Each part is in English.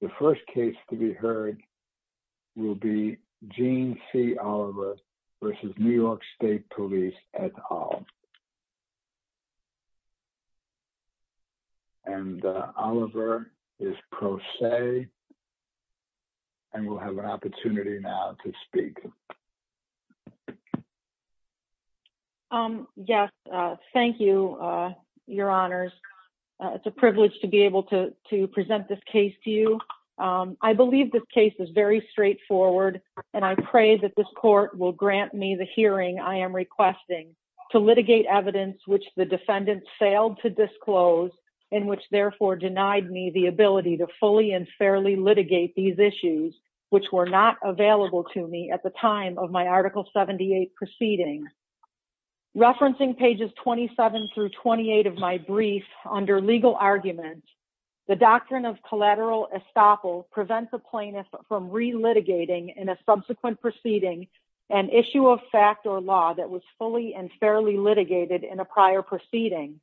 The first case to be heard will be Gene C. Oliver v. New York State Police et al. And Oliver is pro se, and will have an opportunity now to speak. Yes, thank you, your honors. It's a privilege to be able to present this case to you. I believe this case is very straightforward, and I pray that this court will grant me the hearing I am requesting to litigate evidence which the defendant failed to disclose, and which therefore denied me the ability to fully and fairly litigate these issues, which were not available to me at the time of my Article 78 proceedings. Referencing pages 27 through 28 of my brief, under legal argument, the doctrine of collateral estoppel prevents a plaintiff from re-litigating in a subsequent proceeding an issue of fact or law that was fully and fairly litigated in a prior proceeding.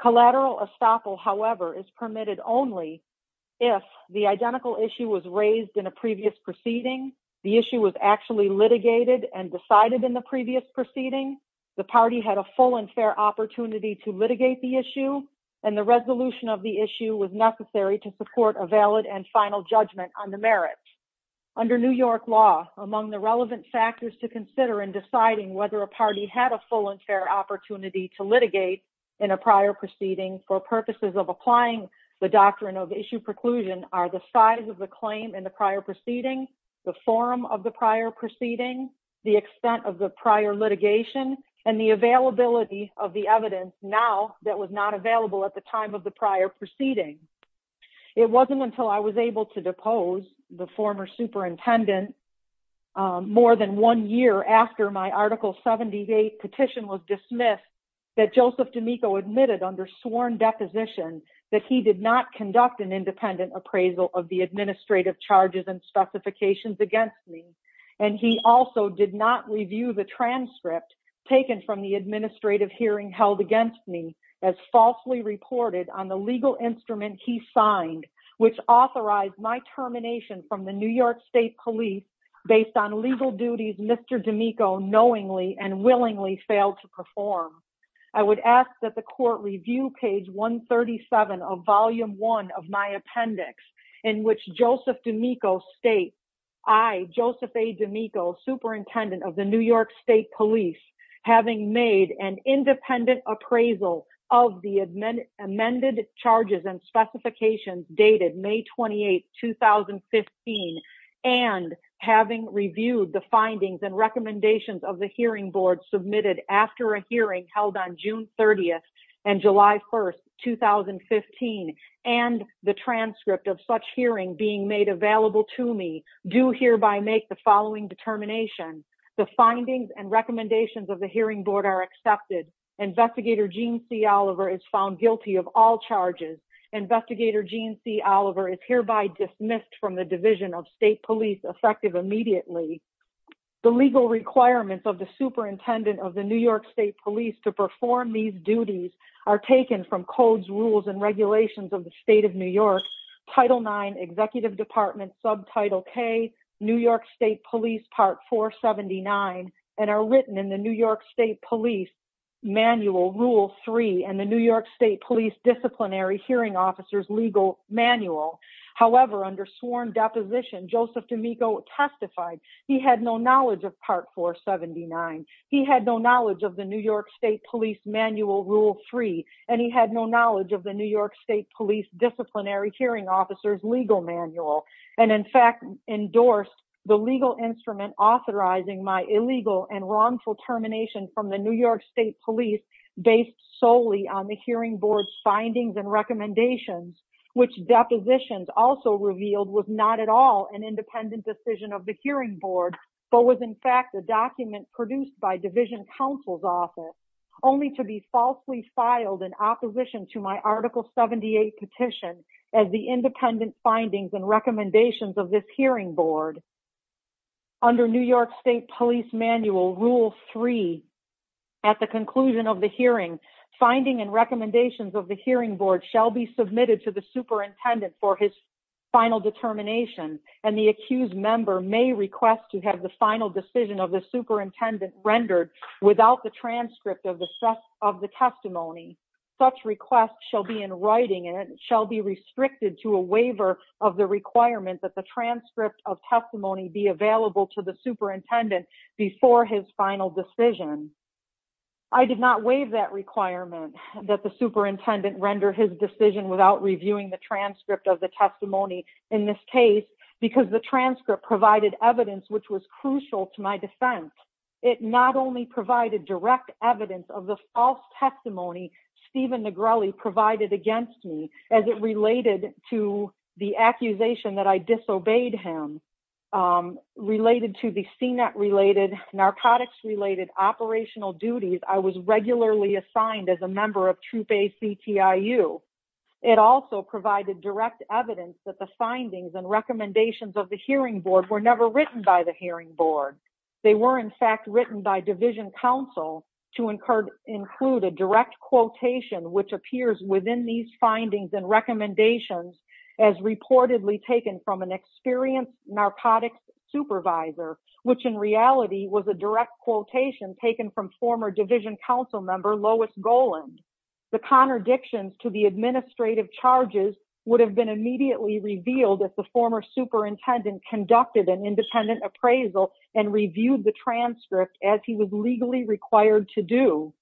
Collateral estoppel, however, is permitted only if the identical issue was raised in a previous proceeding, the issue was actually litigated and decided in the previous proceeding, the party had a full and fair opportunity to litigate the issue, and the resolution of the issue was necessary to support a valid and final judgment on the merits. Under New York law, among the relevant factors to consider in deciding whether a party had a full and fair opportunity to litigate in a prior proceeding for purposes of applying the doctrine of issue preclusion are the size of the claim in the prior proceeding, the form of the prior proceeding, the extent of the prior litigation, and the availability of the evidence now that was not available at the time of the prior proceeding. It wasn't until I was able to depose the former superintendent more than one year after my Article 78 petition was dismissed that Joseph D'Amico admitted under sworn deposition that he did not conduct an independent appraisal of the administrative charges and specifications against me, and he also did not review the transcript taken from the administrative hearing held against me as falsely reported on the legal instrument he signed, which authorized my termination from the New York State Police based on legal duties Mr. D'Amico knowingly and willingly failed to perform. I would ask that the court review page 137 of Volume 1 of my appendix, in which Joseph D'Amico states, I, Joseph A. D'Amico, Superintendent of the New York State Police, having made an independent appraisal of the amended charges and specifications dated May 28, 2015, and having reviewed the findings and recommendations of the hearing board submitted after a hearing held on June 30 and July 1, 2015, and the transcript of such hearing being made available to me, do hereby make the following determination. The findings and recommendations of the hearing board are accepted. Investigator Gene C. Oliver is found guilty of all charges. Investigator Gene C. Oliver is hereby dismissed from the Division of State Police effective immediately. The legal requirements of the Superintendent of the New York State Police to perform these duties are taken from codes, rules, and regulations of the State of New York, Title IX, Executive Department, Subtitle K, New York State Police Part 479, and are written in the New York State Police Manual, Rule 3, and the New York State Police Disciplinary Hearing Officers Legal Manual. However, under sworn deposition, Joseph D'Amico testified he had no knowledge of Part 479. He had no knowledge of the New York State Police Manual, Rule 3, and he had no knowledge of the New York State Police Disciplinary Hearing Officers Legal Manual, and in fact endorsed the legal instrument authorizing my illegal and wrongful termination from the New York State Police based solely on the hearing board's findings and recommendations, which depositions also revealed was not at all an independent decision of the hearing board, but was in fact a document produced by Division Counsel's Office, only to be falsely filed in opposition to my Article 78 petition as the independent findings and recommendations of this hearing board. Under New York State Police Manual, Rule 3, at the conclusion of the hearing, finding and recommendations of the hearing board shall be submitted to the superintendent for his final determination, and the accused member may request to have the final decision of the superintendent rendered without the transcript of the testimony. Such request shall be in writing, and it shall be restricted to a waiver of the requirement that the transcript of testimony be available to the superintendent before his final decision. I did not waive that requirement, that the superintendent render his decision without reviewing the transcript of the testimony in this case, because the transcript provided evidence which was crucial to my defense. It not only provided direct evidence of the false testimony Stephen Negrelli provided against me, as it related to the accusation that I disobeyed him, related to the CNET-related, narcotics-related operational duties, I was regularly assigned as a member of Troop ACTIU. It also provided direct evidence that the findings and recommendations of the hearing board were never written by the hearing board. They were, in fact, written by division counsel, to include a direct quotation which appears within these findings and recommendations as reportedly taken from an experienced narcotics supervisor, which in reality was a direct quotation taken from former division counsel member Lois Goland. The contradictions to the administrative charges would have been immediately revealed if the former superintendent conducted an independent appraisal and reviewed the transcript as he was legally required to do.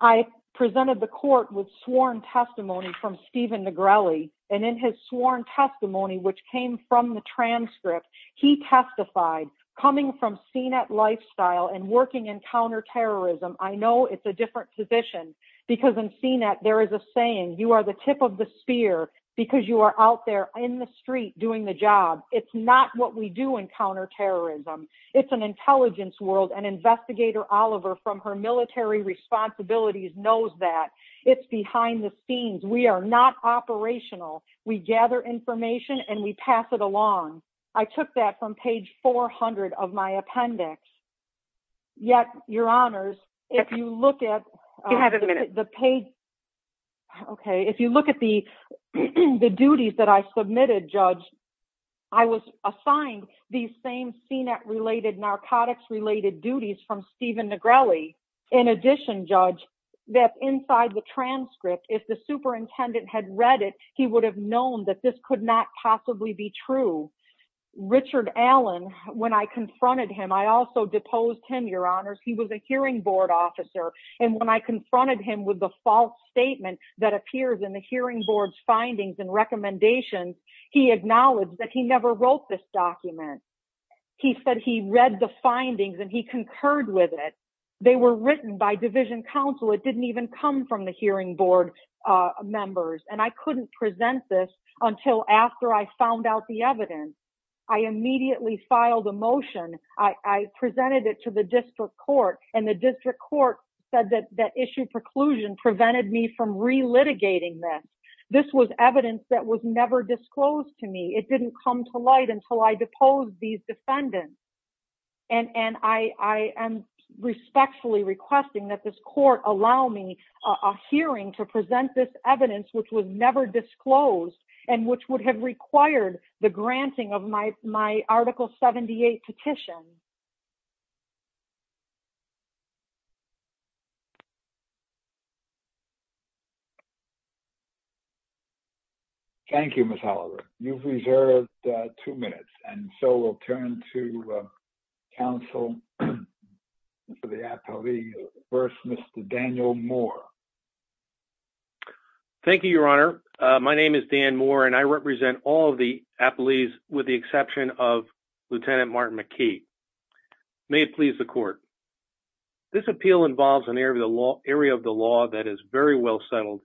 I presented the court with sworn testimony from Stephen Negrelli, and in his sworn testimony, which came from the transcript, he testified, coming from CNET lifestyle and working in counterterrorism, I know it's a different position, because in CNET there is a saying, you are the tip of the spear because you are out there in the street doing the job. It's not what we do in counterterrorism. It's an intelligence world. And Investigator Oliver, from her military responsibilities, knows that. It's behind the scenes. We are not operational. We gather information and we pass it along. I took that from page 400 of my appendix. Yet, your honors, if you look at the page... If you look at the duties that I submitted, Judge, I was assigned these same CNET-related, narcotics-related duties from Stephen Negrelli. In addition, Judge, that inside the transcript, if the superintendent had read it, he would have known that this could not possibly be true. Richard Allen, when I confronted him, I also deposed him, your honors. He was a hearing board officer. And when I confronted him with the false statement that appears in the hearing board's findings and recommendations, he acknowledged that he never wrote this document. He said he read the findings and he concurred with it. They were written by division counsel. It didn't even come from the hearing board members. And I couldn't present this until after I found out the evidence. I immediately filed a motion. I presented it to the district court. And the district court said that that issue preclusion prevented me from re-litigating this. This was evidence that was never disclosed to me. It didn't come to light until I deposed these defendants. And I am respectfully requesting that this court allow me a hearing to present this evidence which was never disclosed and which would have required the granting of my Article 78 petition. Thank you, Ms. Holliver. You've reserved two minutes. And so we'll turn to counsel for the atelier. First, Mr. Daniel Moore. Thank you, your honor. My name is Dan Moore and I represent all of the ateliers with the exception of Lieutenant Martin McKee. May it please the court. This appeal involves an area of the law that is very well settled.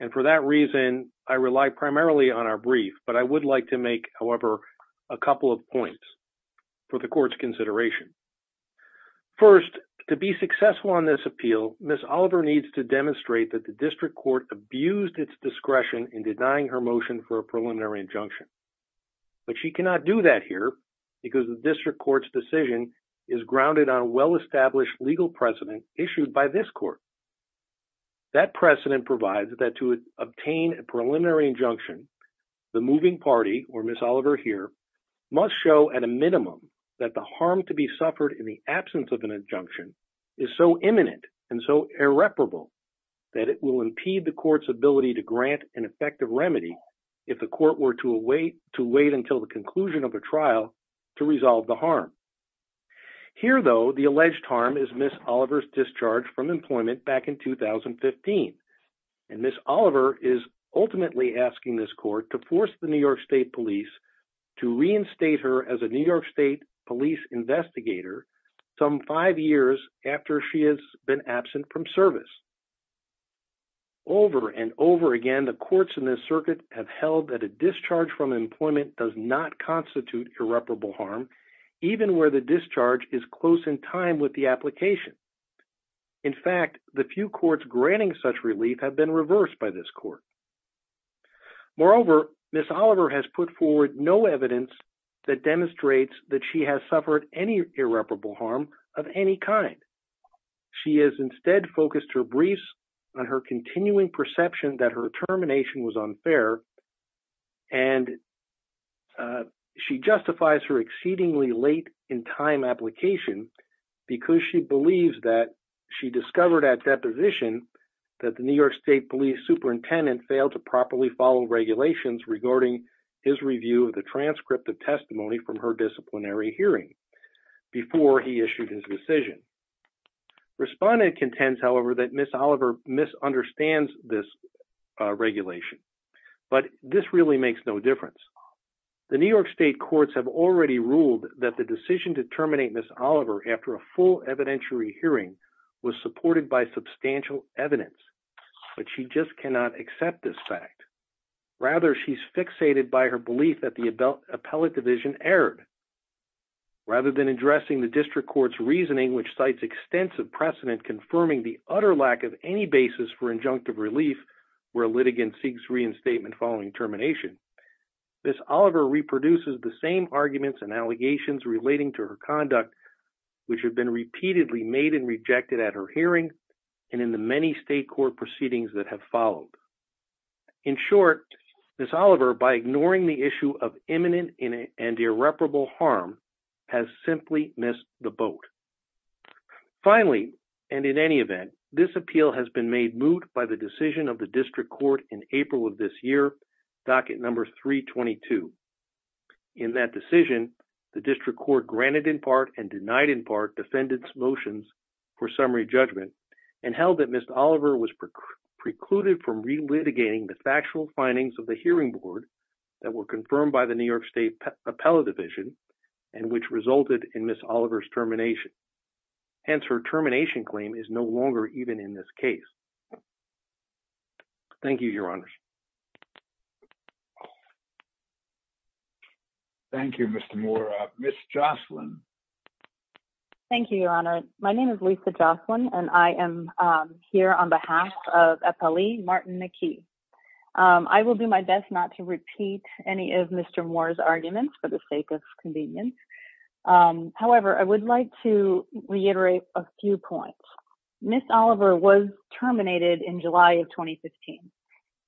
And for that reason, I rely primarily on our brief. But I would like to make, however, a couple of points for the court's consideration. First, to be successful on this appeal, Ms. Holliver needs to demonstrate that the district court abused its discretion in denying her motion for a preliminary injunction. But she cannot do that here because the district court's decision is grounded on a well-established legal precedent issued by this court. That precedent provides that to obtain a preliminary injunction, the moving party, or Ms. Holliver here, must show at a minimum that the harm to be suffered in the absence of an injunction is so imminent and so irreparable that it will impede the court's ability to grant an effective remedy if the court were to wait until the conclusion of the trial to resolve the harm. Here, though, the alleged harm is Ms. Holliver's discharge from employment back in 2015. And Ms. Holliver is ultimately asking this court to force the New York State police to reinstate her as a New York State police investigator some five years after she has been absent from service. Over and over again, the courts in this circuit have held that a discharge from employment does not constitute irreparable harm, even where the discharge is close in time with the application. In fact, the few courts granting such relief have been reversed by this court. Moreover, Ms. Holliver has put forward no evidence that demonstrates that she has suffered any irreparable harm of any kind. She has instead focused her briefs on her continuing perception that her termination was unfair, and she justifies her exceedingly late-in-time application because she believes that she discovered at deposition that the New York State police superintendent failed to properly follow regulations regarding his review of the transcript of testimony from her disciplinary hearing before he issued his decision. Respondent contends, however, that Ms. Holliver misunderstands this regulation, but this really makes no difference. The New York State courts have already ruled that the decision to terminate Ms. Holliver after a full evidentiary hearing was supported by substantial evidence, but she just cannot accept this fact. Rather, she's fixated by her belief that the appellate division erred. Rather than addressing the district court's reasoning, which cites extensive precedent confirming the utter lack of any basis for injunctive relief where a litigant seeks reinstatement following termination, Ms. Holliver reproduces the same arguments and allegations relating to her conduct, which have been repeatedly made and rejected at her hearing and in the many state court proceedings that have followed. In short, Ms. Holliver, by ignoring the issue of imminent and irreparable harm, has simply missed the boat. Finally, and in any event, this appeal has been made moot by the decision of the district court in April of this year, docket number 322. In that decision, the district court granted in part and denied in part defendants' motions for summary judgment and held that Ms. Holliver was precluded from relitigating the factual findings of the hearing board that were confirmed by the New York State Appellate Division and which resulted in Ms. Holliver's termination. Hence, her termination claim is no longer even in this case. Thank you, Your Honors. Thank you, Mr. Moore. Ms. Jocelyn. Thank you, Your Honor. My name is Lisa Jocelyn, and I am here on behalf of Appellee Martin McKee. I will do my best not to repeat any of Mr. Moore's arguments for the sake of convenience. However, I would like to reiterate a few points. Ms. Holliver was terminated in July of 2015,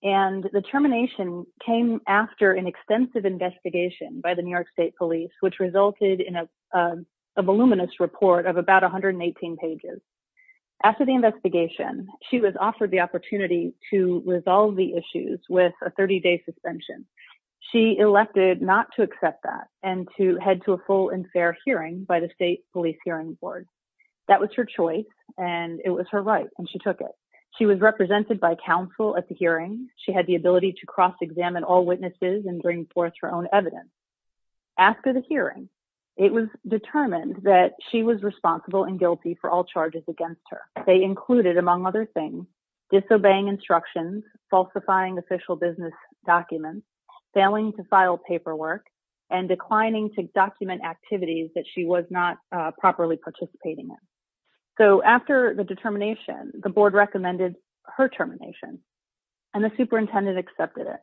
and the termination came after an extensive investigation by the New York State Police, which resulted in a voluminous report of about 118 pages. After the investigation, she was offered the opportunity to resolve the issues with a 30-day suspension. She elected not to accept that and to head to a full and fair hearing by the State Police Hearing Board. That was her choice, and it was her right, and she took it. She was represented by counsel at the hearing. She had the ability to cross-examine all witnesses and bring forth her own evidence. After the hearing, it was determined that she was responsible and guilty for all charges against her. They included, among other things, disobeying instructions, falsifying official business documents, failing to file paperwork, and declining to document activities that she was not properly participating in. So after the determination, the board recommended her termination, and the superintendent accepted it.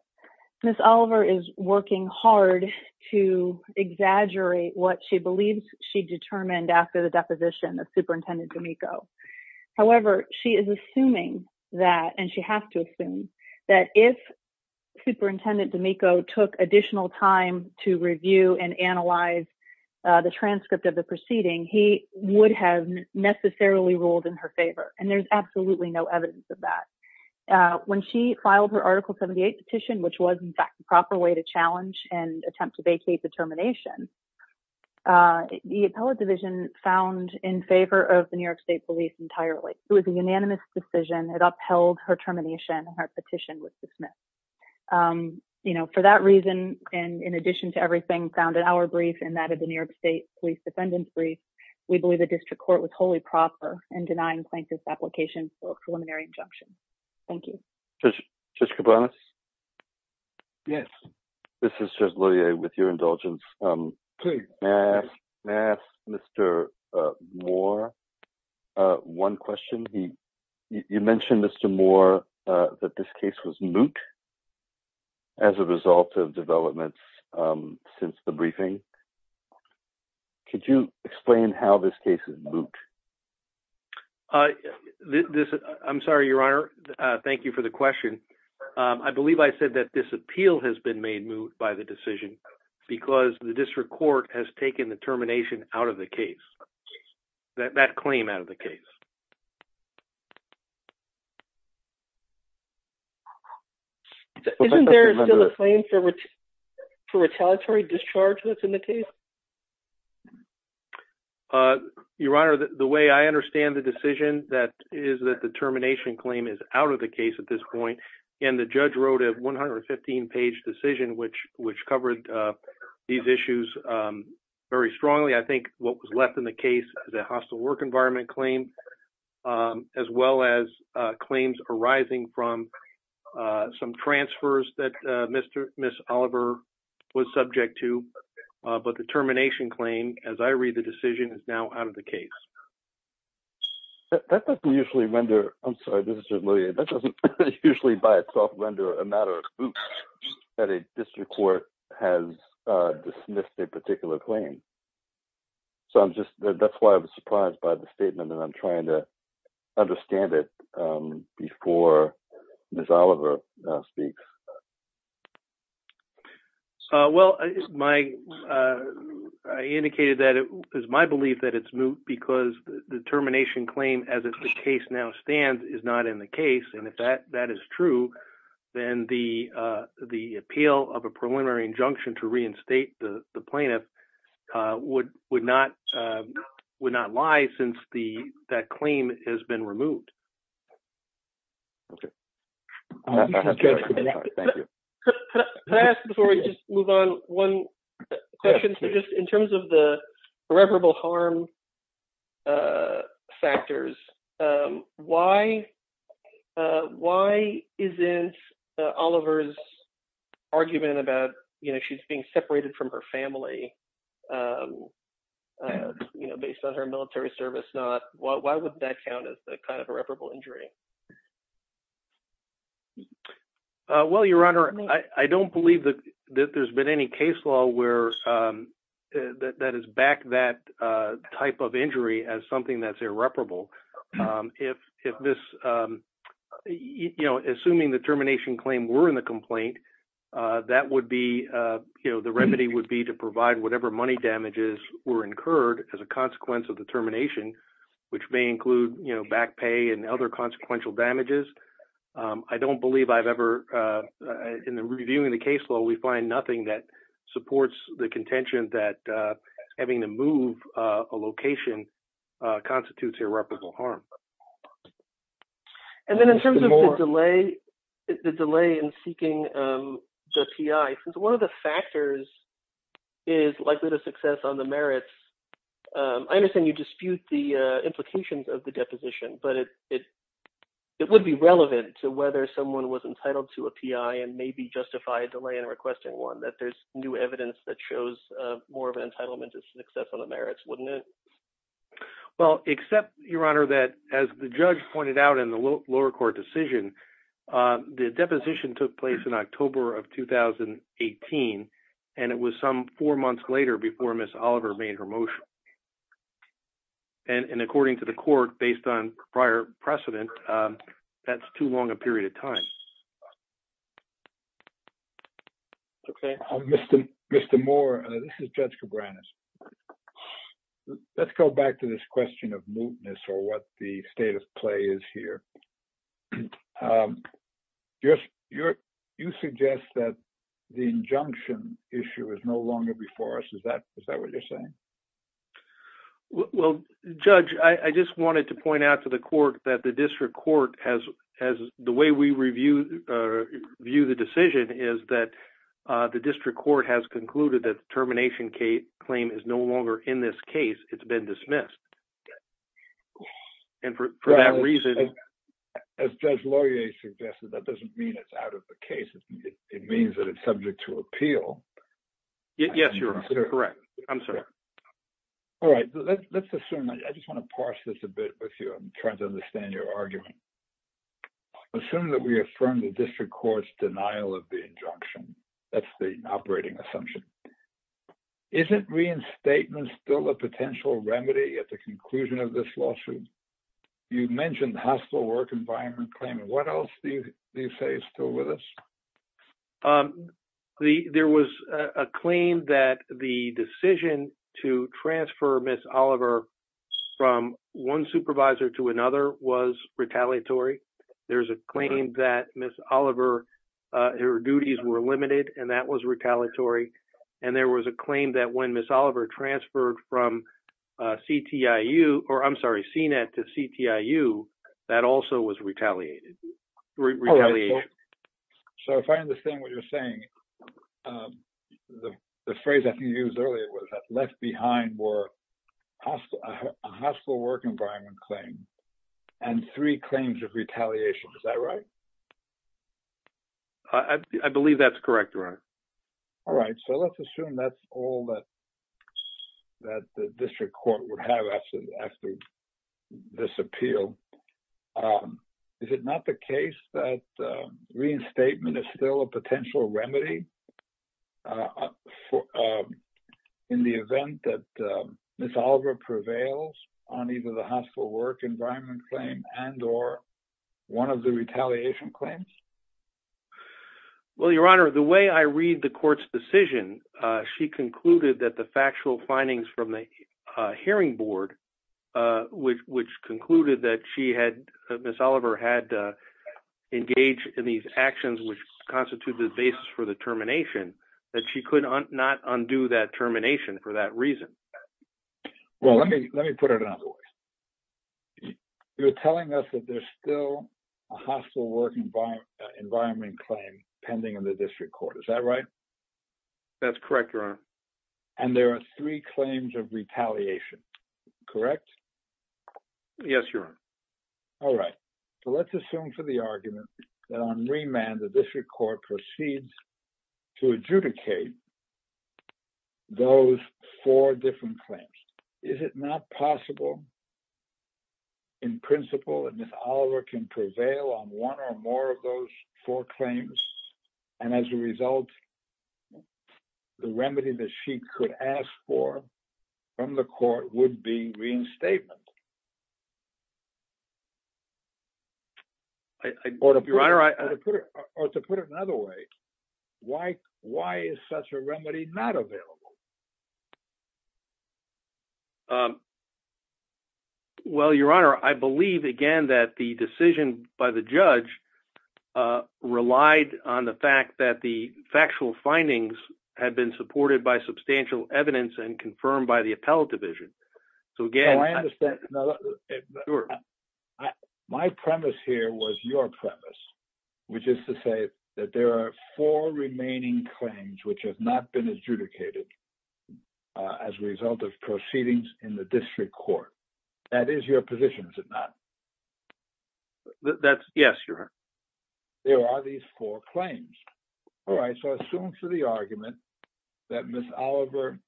Ms. Oliver is working hard to exaggerate what she believes she determined after the deposition of Superintendent D'Amico. However, she is assuming that, and she has to assume, that if Superintendent D'Amico took additional time to review and analyze the transcript of the proceeding, he would have necessarily ruled in her favor, and there's absolutely no evidence of that. When she filed her Article 78 petition, which was, in fact, the proper way to challenge and attempt to vacate the termination, the appellate division found in favor of the New York State police entirely. It was a unanimous decision. It upheld her termination, and her petition was dismissed. You know, for that reason, and in addition to everything found in our brief and that of the New York State police defendant's brief, we believe the district court was wholly proper in denying Plaintiff's application for a preliminary injunction. Thank you. Judge Kabanos? Yes. This is Judge Lillier, with your indulgence. Please. May I ask Mr. Moore one question? You mentioned, Mr. Moore, that this case was moot as a result of developments since the briefing. Could you explain how this case is moot? I'm sorry, Your Honor. Thank you for the question. I believe I said that this appeal has been made moot by the decision because the district court has taken the termination out of the case, that claim out of the case. Isn't there still a claim for retaliatory discharge that's in the case? Your Honor, the way I understand the decision, that is that the termination claim is out of the case at this point, and the judge wrote a 115-page decision, which covered these issues very strongly. I think what was left in the case, the hostile work environment claim, as well as claims arising from some transfers that Ms. Oliver was subject to, but the termination claim, as I read the decision, is now out of the case. That doesn't usually render, I'm sorry, this is Judge Lillier, that doesn't usually by itself render a matter of moot that a district court has dismissed a particular claim. That's why I was surprised by the statement, and I'm trying to understand it before Ms. Oliver speaks. Well, I indicated that it was my belief that it's moot because the termination claim, as the case now stands, is not in the case. If that is true, then the appeal of a preliminary injunction to reinstate the plaintiff would not lie since that claim has been removed. Can I ask before we just move on one question? In terms of the irreparable harm factors, why isn't Oliver's argument about she's being separated from her family based on her military service? Why would that count as a kind of irreparable injury? Well, Your Honor, I don't believe that there's been any case law that has backed that type of injury as something that's irreparable. Assuming the termination claim were in the complaint, the remedy would be to provide whatever money damages were incurred as a consequence of the termination, which may include back pay and other consequential damages. I don't believe I've ever, in reviewing the case law, we find nothing that supports the contention that having to move a location constitutes irreparable harm. And then in terms of the delay in seeking the PI, since one of the factors is likely to success on the merits, I understand you dispute the implications of the deposition, but it would be relevant to whether someone was entitled to a PI and maybe justify a delay in requesting one, that there's new evidence that shows more of an entitlement to success on the merits, wouldn't it? Well, except Your Honor, that as the judge pointed out in the lower court decision, the deposition took place in October of 2018, and it was some four months later before Ms. Oliver made her motion. And according to the court, based on prior precedent, that's too long a period of time. Mr. Moore, this is Judge Cabranes. Let's go back to this question of mootness or what the state of play is here. You suggest that the injunction issue is no longer before us. Is that what you're saying? Well, Judge, I just wanted to point out to the court that the district court has, the way we review the decision is that the district court has concluded that the termination claim is no longer in this case. It's been dismissed. And for that reason. As Judge Laurier suggested, that doesn't mean it's out of the case. It means that it's subject to appeal. Yes, Your Honor. Correct. I'm sorry. All right. Let's assume, I just want to parse this a bit with you. I'm trying to understand your argument. Assuming that we affirm the district court's denial of the injunction, that's the operating assumption. Isn't reinstatement still a potential remedy at the conclusion of this lawsuit? You mentioned the hostile work environment claim. And what else do you say is still with us? There was a claim that the decision to transfer Ms. Oliver from one supervisor to another was retaliatory. There's a claim that Ms. Oliver, her duties were limited and that was retaliatory. And there was a claim that when Ms. Oliver transferred from CTIU, or I'm sorry, CNET to CTIU, that also was retaliated. So if I understand what you're saying, the phrase that you used earlier was that left behind were a hostile work environment claim and three claims of retaliation. Is that right? I believe that's correct, Your Honor. All right. So let's assume that's all that the district court would have after this appeal. Is it not the case that reinstatement is still a potential remedy in the event that Ms. Oliver prevails on either the hostile work environment claim and or one of the retaliation claims? Well, Your Honor, the way I read the court's decision she concluded that the factual findings from the hearing board, which, which concluded that she had Ms. Oliver had engaged in these actions, which constitute the basis for the termination, that she could not undo that termination for that reason. Well, let me, let me put it another way. You're telling us that there's still a hostile work environment, a hostile work environment claim pending in the district court. Is that right? That's correct, Your Honor. And there are three claims of retaliation, correct? Yes, Your Honor. All right. So let's assume for the argument that on remand, the district court proceeds to adjudicate those four different claims. Is it not possible in principle that Ms. Oliver would not adjudicate those four claims? And as a result, the remedy that she could ask for from the court would be reinstatement? Or to put it another way, why, why is such a remedy not available? Well, Your Honor, I believe again that the decision by the judge, relied on the fact that the factual findings had been supported by substantial evidence and confirmed by the appellate division. So again, No, I understand. My premise here was your premise, which is to say that there are four remaining claims which have not been adjudicated as a result of proceedings in the district court. That is your position, is it not? That's, yes, Your Honor. There are these four claims. All right. So I assume for the argument that Ms. Oliver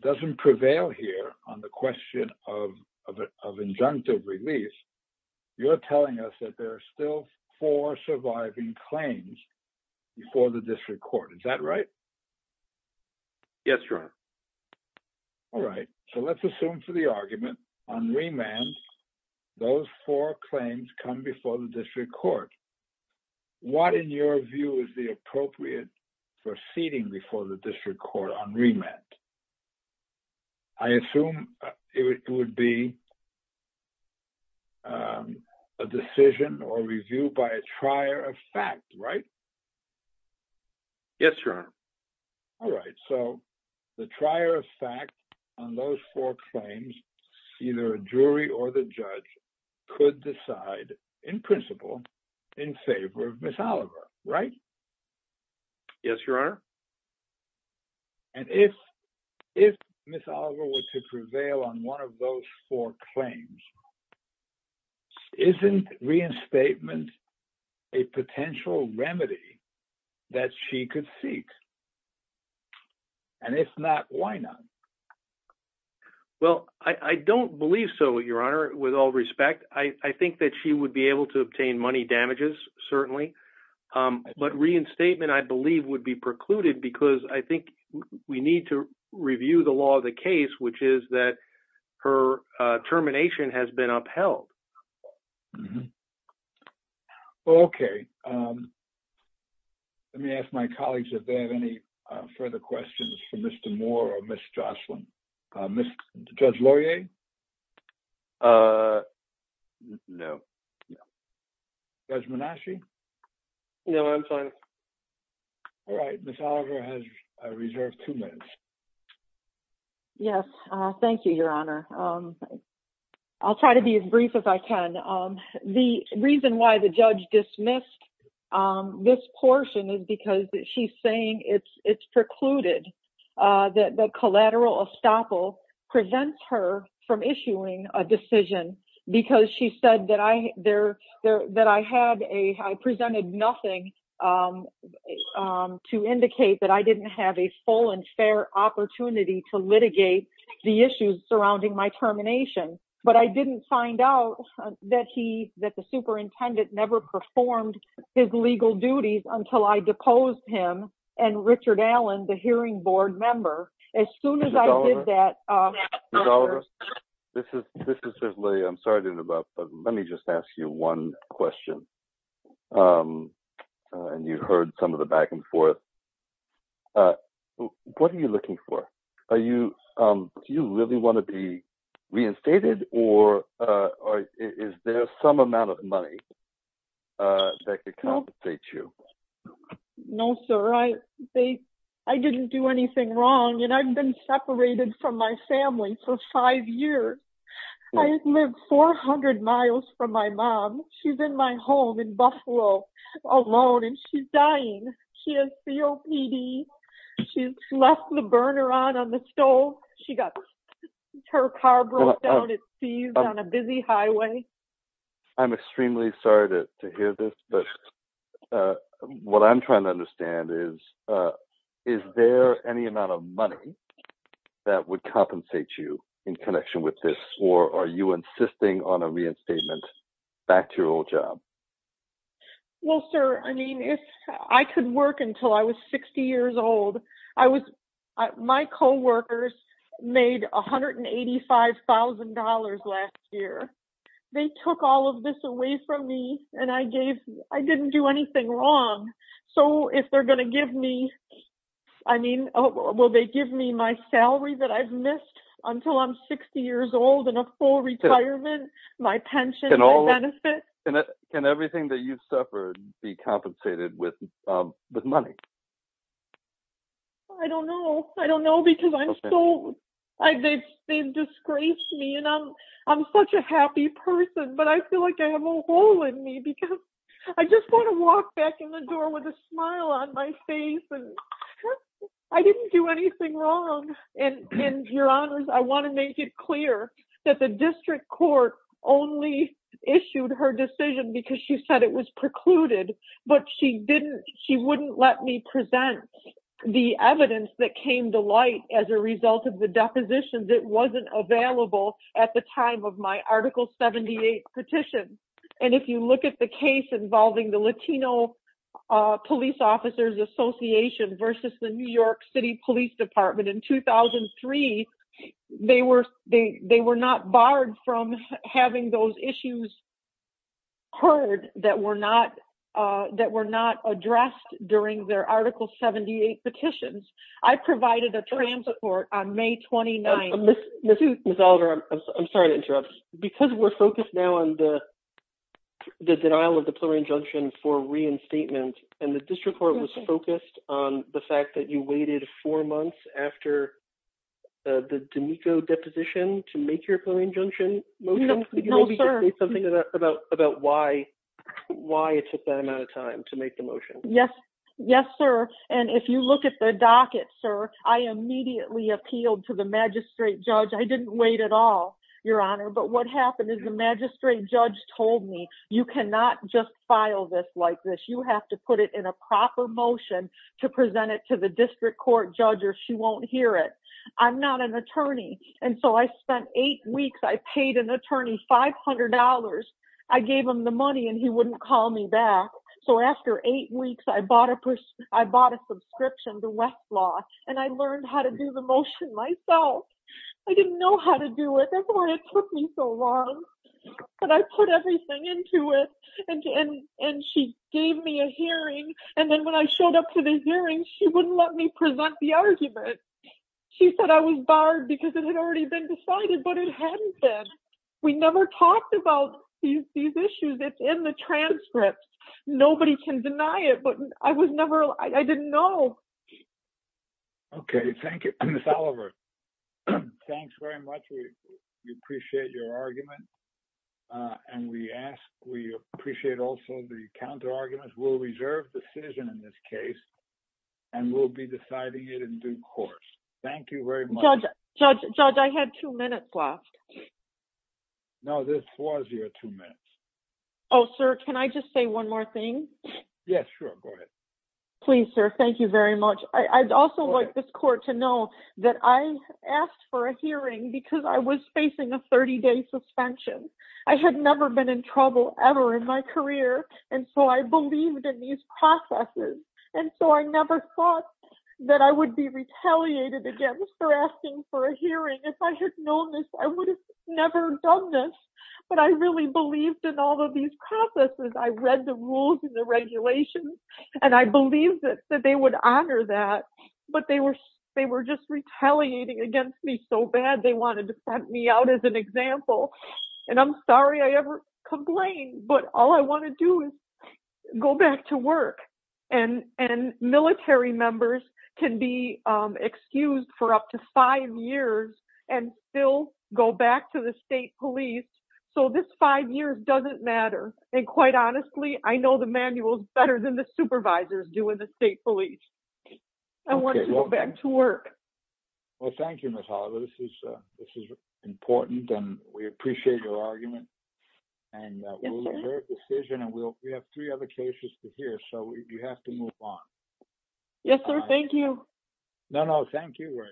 doesn't prevail here on the question of, of, of injunctive release. You're telling us that there are still four surviving claims before the district court. Is that right? Yes, Your Honor. All right. So let's assume for the argument on remand, those four claims come before the district court. What in your view is the appropriate proceeding before the district court on remand? I assume it would be, a decision or review by a trier of fact, right? Yes, Your Honor. All right. So the trier of fact on those four claims, either a jury or the judge could decide in principle in favor of Ms. Oliver, right? Yes, Your Honor. And if, if Ms. Oliver were to prevail on one of those four claims, isn't reinstatement a potential remedy that she could seek? And if not, why not? Well, I, I don't believe so Your Honor with all respect, I think that she would be able to obtain money damages certainly. But reinstatement I believe would be precluded because I think we need to review the law of the case, which is that her termination has been upheld. Okay. Let me ask my colleagues if they have any further questions for Mr. Oslin. Ms. Judge Laurier? Uh, no. Judge Manasci? No, I'm fine. All right. Ms. Oliver has a reserve two minutes. Yes. Thank you, Your Honor. I'll try to be as brief as I can. The reason why the judge dismissed this portion is because she's saying it's, it's precluded that the collateral estoppel presents her from issuing a decision because she said that I, there that I had a, I presented nothing to indicate that I didn't have a full and fair opportunity to litigate the issues surrounding my termination. But I didn't find out that he, that the superintendent never performed his legal duties until I deposed him and Richard Allen, the hearing board member, as soon as I did that. Ms. Oliver, this is, this is certainly, I'm sorry to interrupt, but let me just ask you one question. Um, and you heard some of the back and forth. Uh, what are you looking for? Are you, um, do you really want to be reinstated or, uh, or is there some amount of money, uh, that could compensate you? No, sir. I, they, I didn't do anything wrong and I've been separated from my family for five years. I lived 400 miles from my mom. She's in my home in Buffalo alone and she's dying. She has COPD. She's left the burner on, on the stove. She got her car broke down. It's on a busy highway. I'm extremely sorry to hear this, but, uh, what I'm trying to understand is, uh, is there any amount of money that would compensate you in connection with this? Or are you insisting on a reinstatement back to your old job? Well, sir, I mean, if I could work until I was 60 years old, I was, my coworkers made $185,000 last year. They took all of this away from me and I gave, I didn't do anything wrong. So if they're going to give me, I mean, will they give me my salary that I've missed until I'm 60 years old and a full retirement, my pension, my benefit? Can everything that you've suffered be compensated with, um, with money? I don't know. I don't know because I'm so, I, they've, they've disgraced me and I'm, I'm such a happy person, but I feel like I have a hole in me because I just want to walk back in the door with a smile on my face. And I didn't do anything wrong. And, and your honors, I want to make it clear that the district court only issued her decision because she said it was precluded, but she didn't, she wouldn't let me present the evidence that came to light as a result of the depositions. It wasn't available at the time of my article 78 petition. And if you look at the case involving the Latino police officers association versus the New York city police department in 2003, they were, they, they were not barred from having those issues heard that were not, uh, that were not addressed during their article 78 petitions. I provided a transport on may 29th. Ms. Oliver, I'm sorry to interrupt because we're focused now on the, the denial of the plural injunction for reinstatement and the district court was focused on the fact that you waited four months after, uh, the D'Amico deposition to make your plural injunction motion. Something about, about why, why it took that amount of time to make the motion. Yes. Yes, sir. And if you look at the docket, sir, I immediately appealed to the magistrate judge. I didn't wait at all, your honor. But what happened is the magistrate judge told me you cannot just file this like this. You have to put it in a proper motion to present it to the district court judge, or she won't hear it. I'm not an attorney. And so I spent eight weeks. I paid an attorney $500. I gave him the money and he wouldn't call me back. So after eight weeks, I bought a purse. I bought a subscription to Westlaw and I learned how to do the motion myself. I didn't know how to do it. That's why it took me so long, but I put everything into it. And, and she gave me a hearing. And then when I showed up to the hearing, she wouldn't let me present the argument. She said I was barred because it had already been decided, but it hadn't been, we never talked about these, these issues it's in the transcript. Nobody can deny it, but I was never, I didn't know. Okay. Thank you. Thanks very much. We appreciate your argument. And we ask, we appreciate also the counter arguments will reserve decision in this case. And we'll be deciding it in due course. Thank you very much. Judge. Judge, I had two minutes left. No, this was your two minutes. Oh, sir. Can I just say one more thing? Yeah, sure. Please, sir. Thank you very much. I'd also like this court to know that I asked for a hearing because I was facing a 30 day suspension. I had never been in trouble ever in my career. And so I believed in these processes. And so I never thought that I would be retaliated against for asking for a hearing. If I had known this, I would have never done this, but I really believed in all of these processes. I read the rules and the regulations, and I believe that they would honor that, but they were, they were just retaliating against me so bad. They wanted to send me out as an example, and I'm sorry I ever complained, but all I want to do is go back to work and, and military members can be excused for up to five years and still go back to the state police. So this five years doesn't matter. And quite honestly, I know the manuals better than the supervisors do in the state police. I want to go back to work. Well, thank you, Miss Hollywood. This is a, this is important and we appreciate your argument and decision. And we'll, we have three other cases to hear. So you have to move on. Yes, sir. Thank you. No, thank you.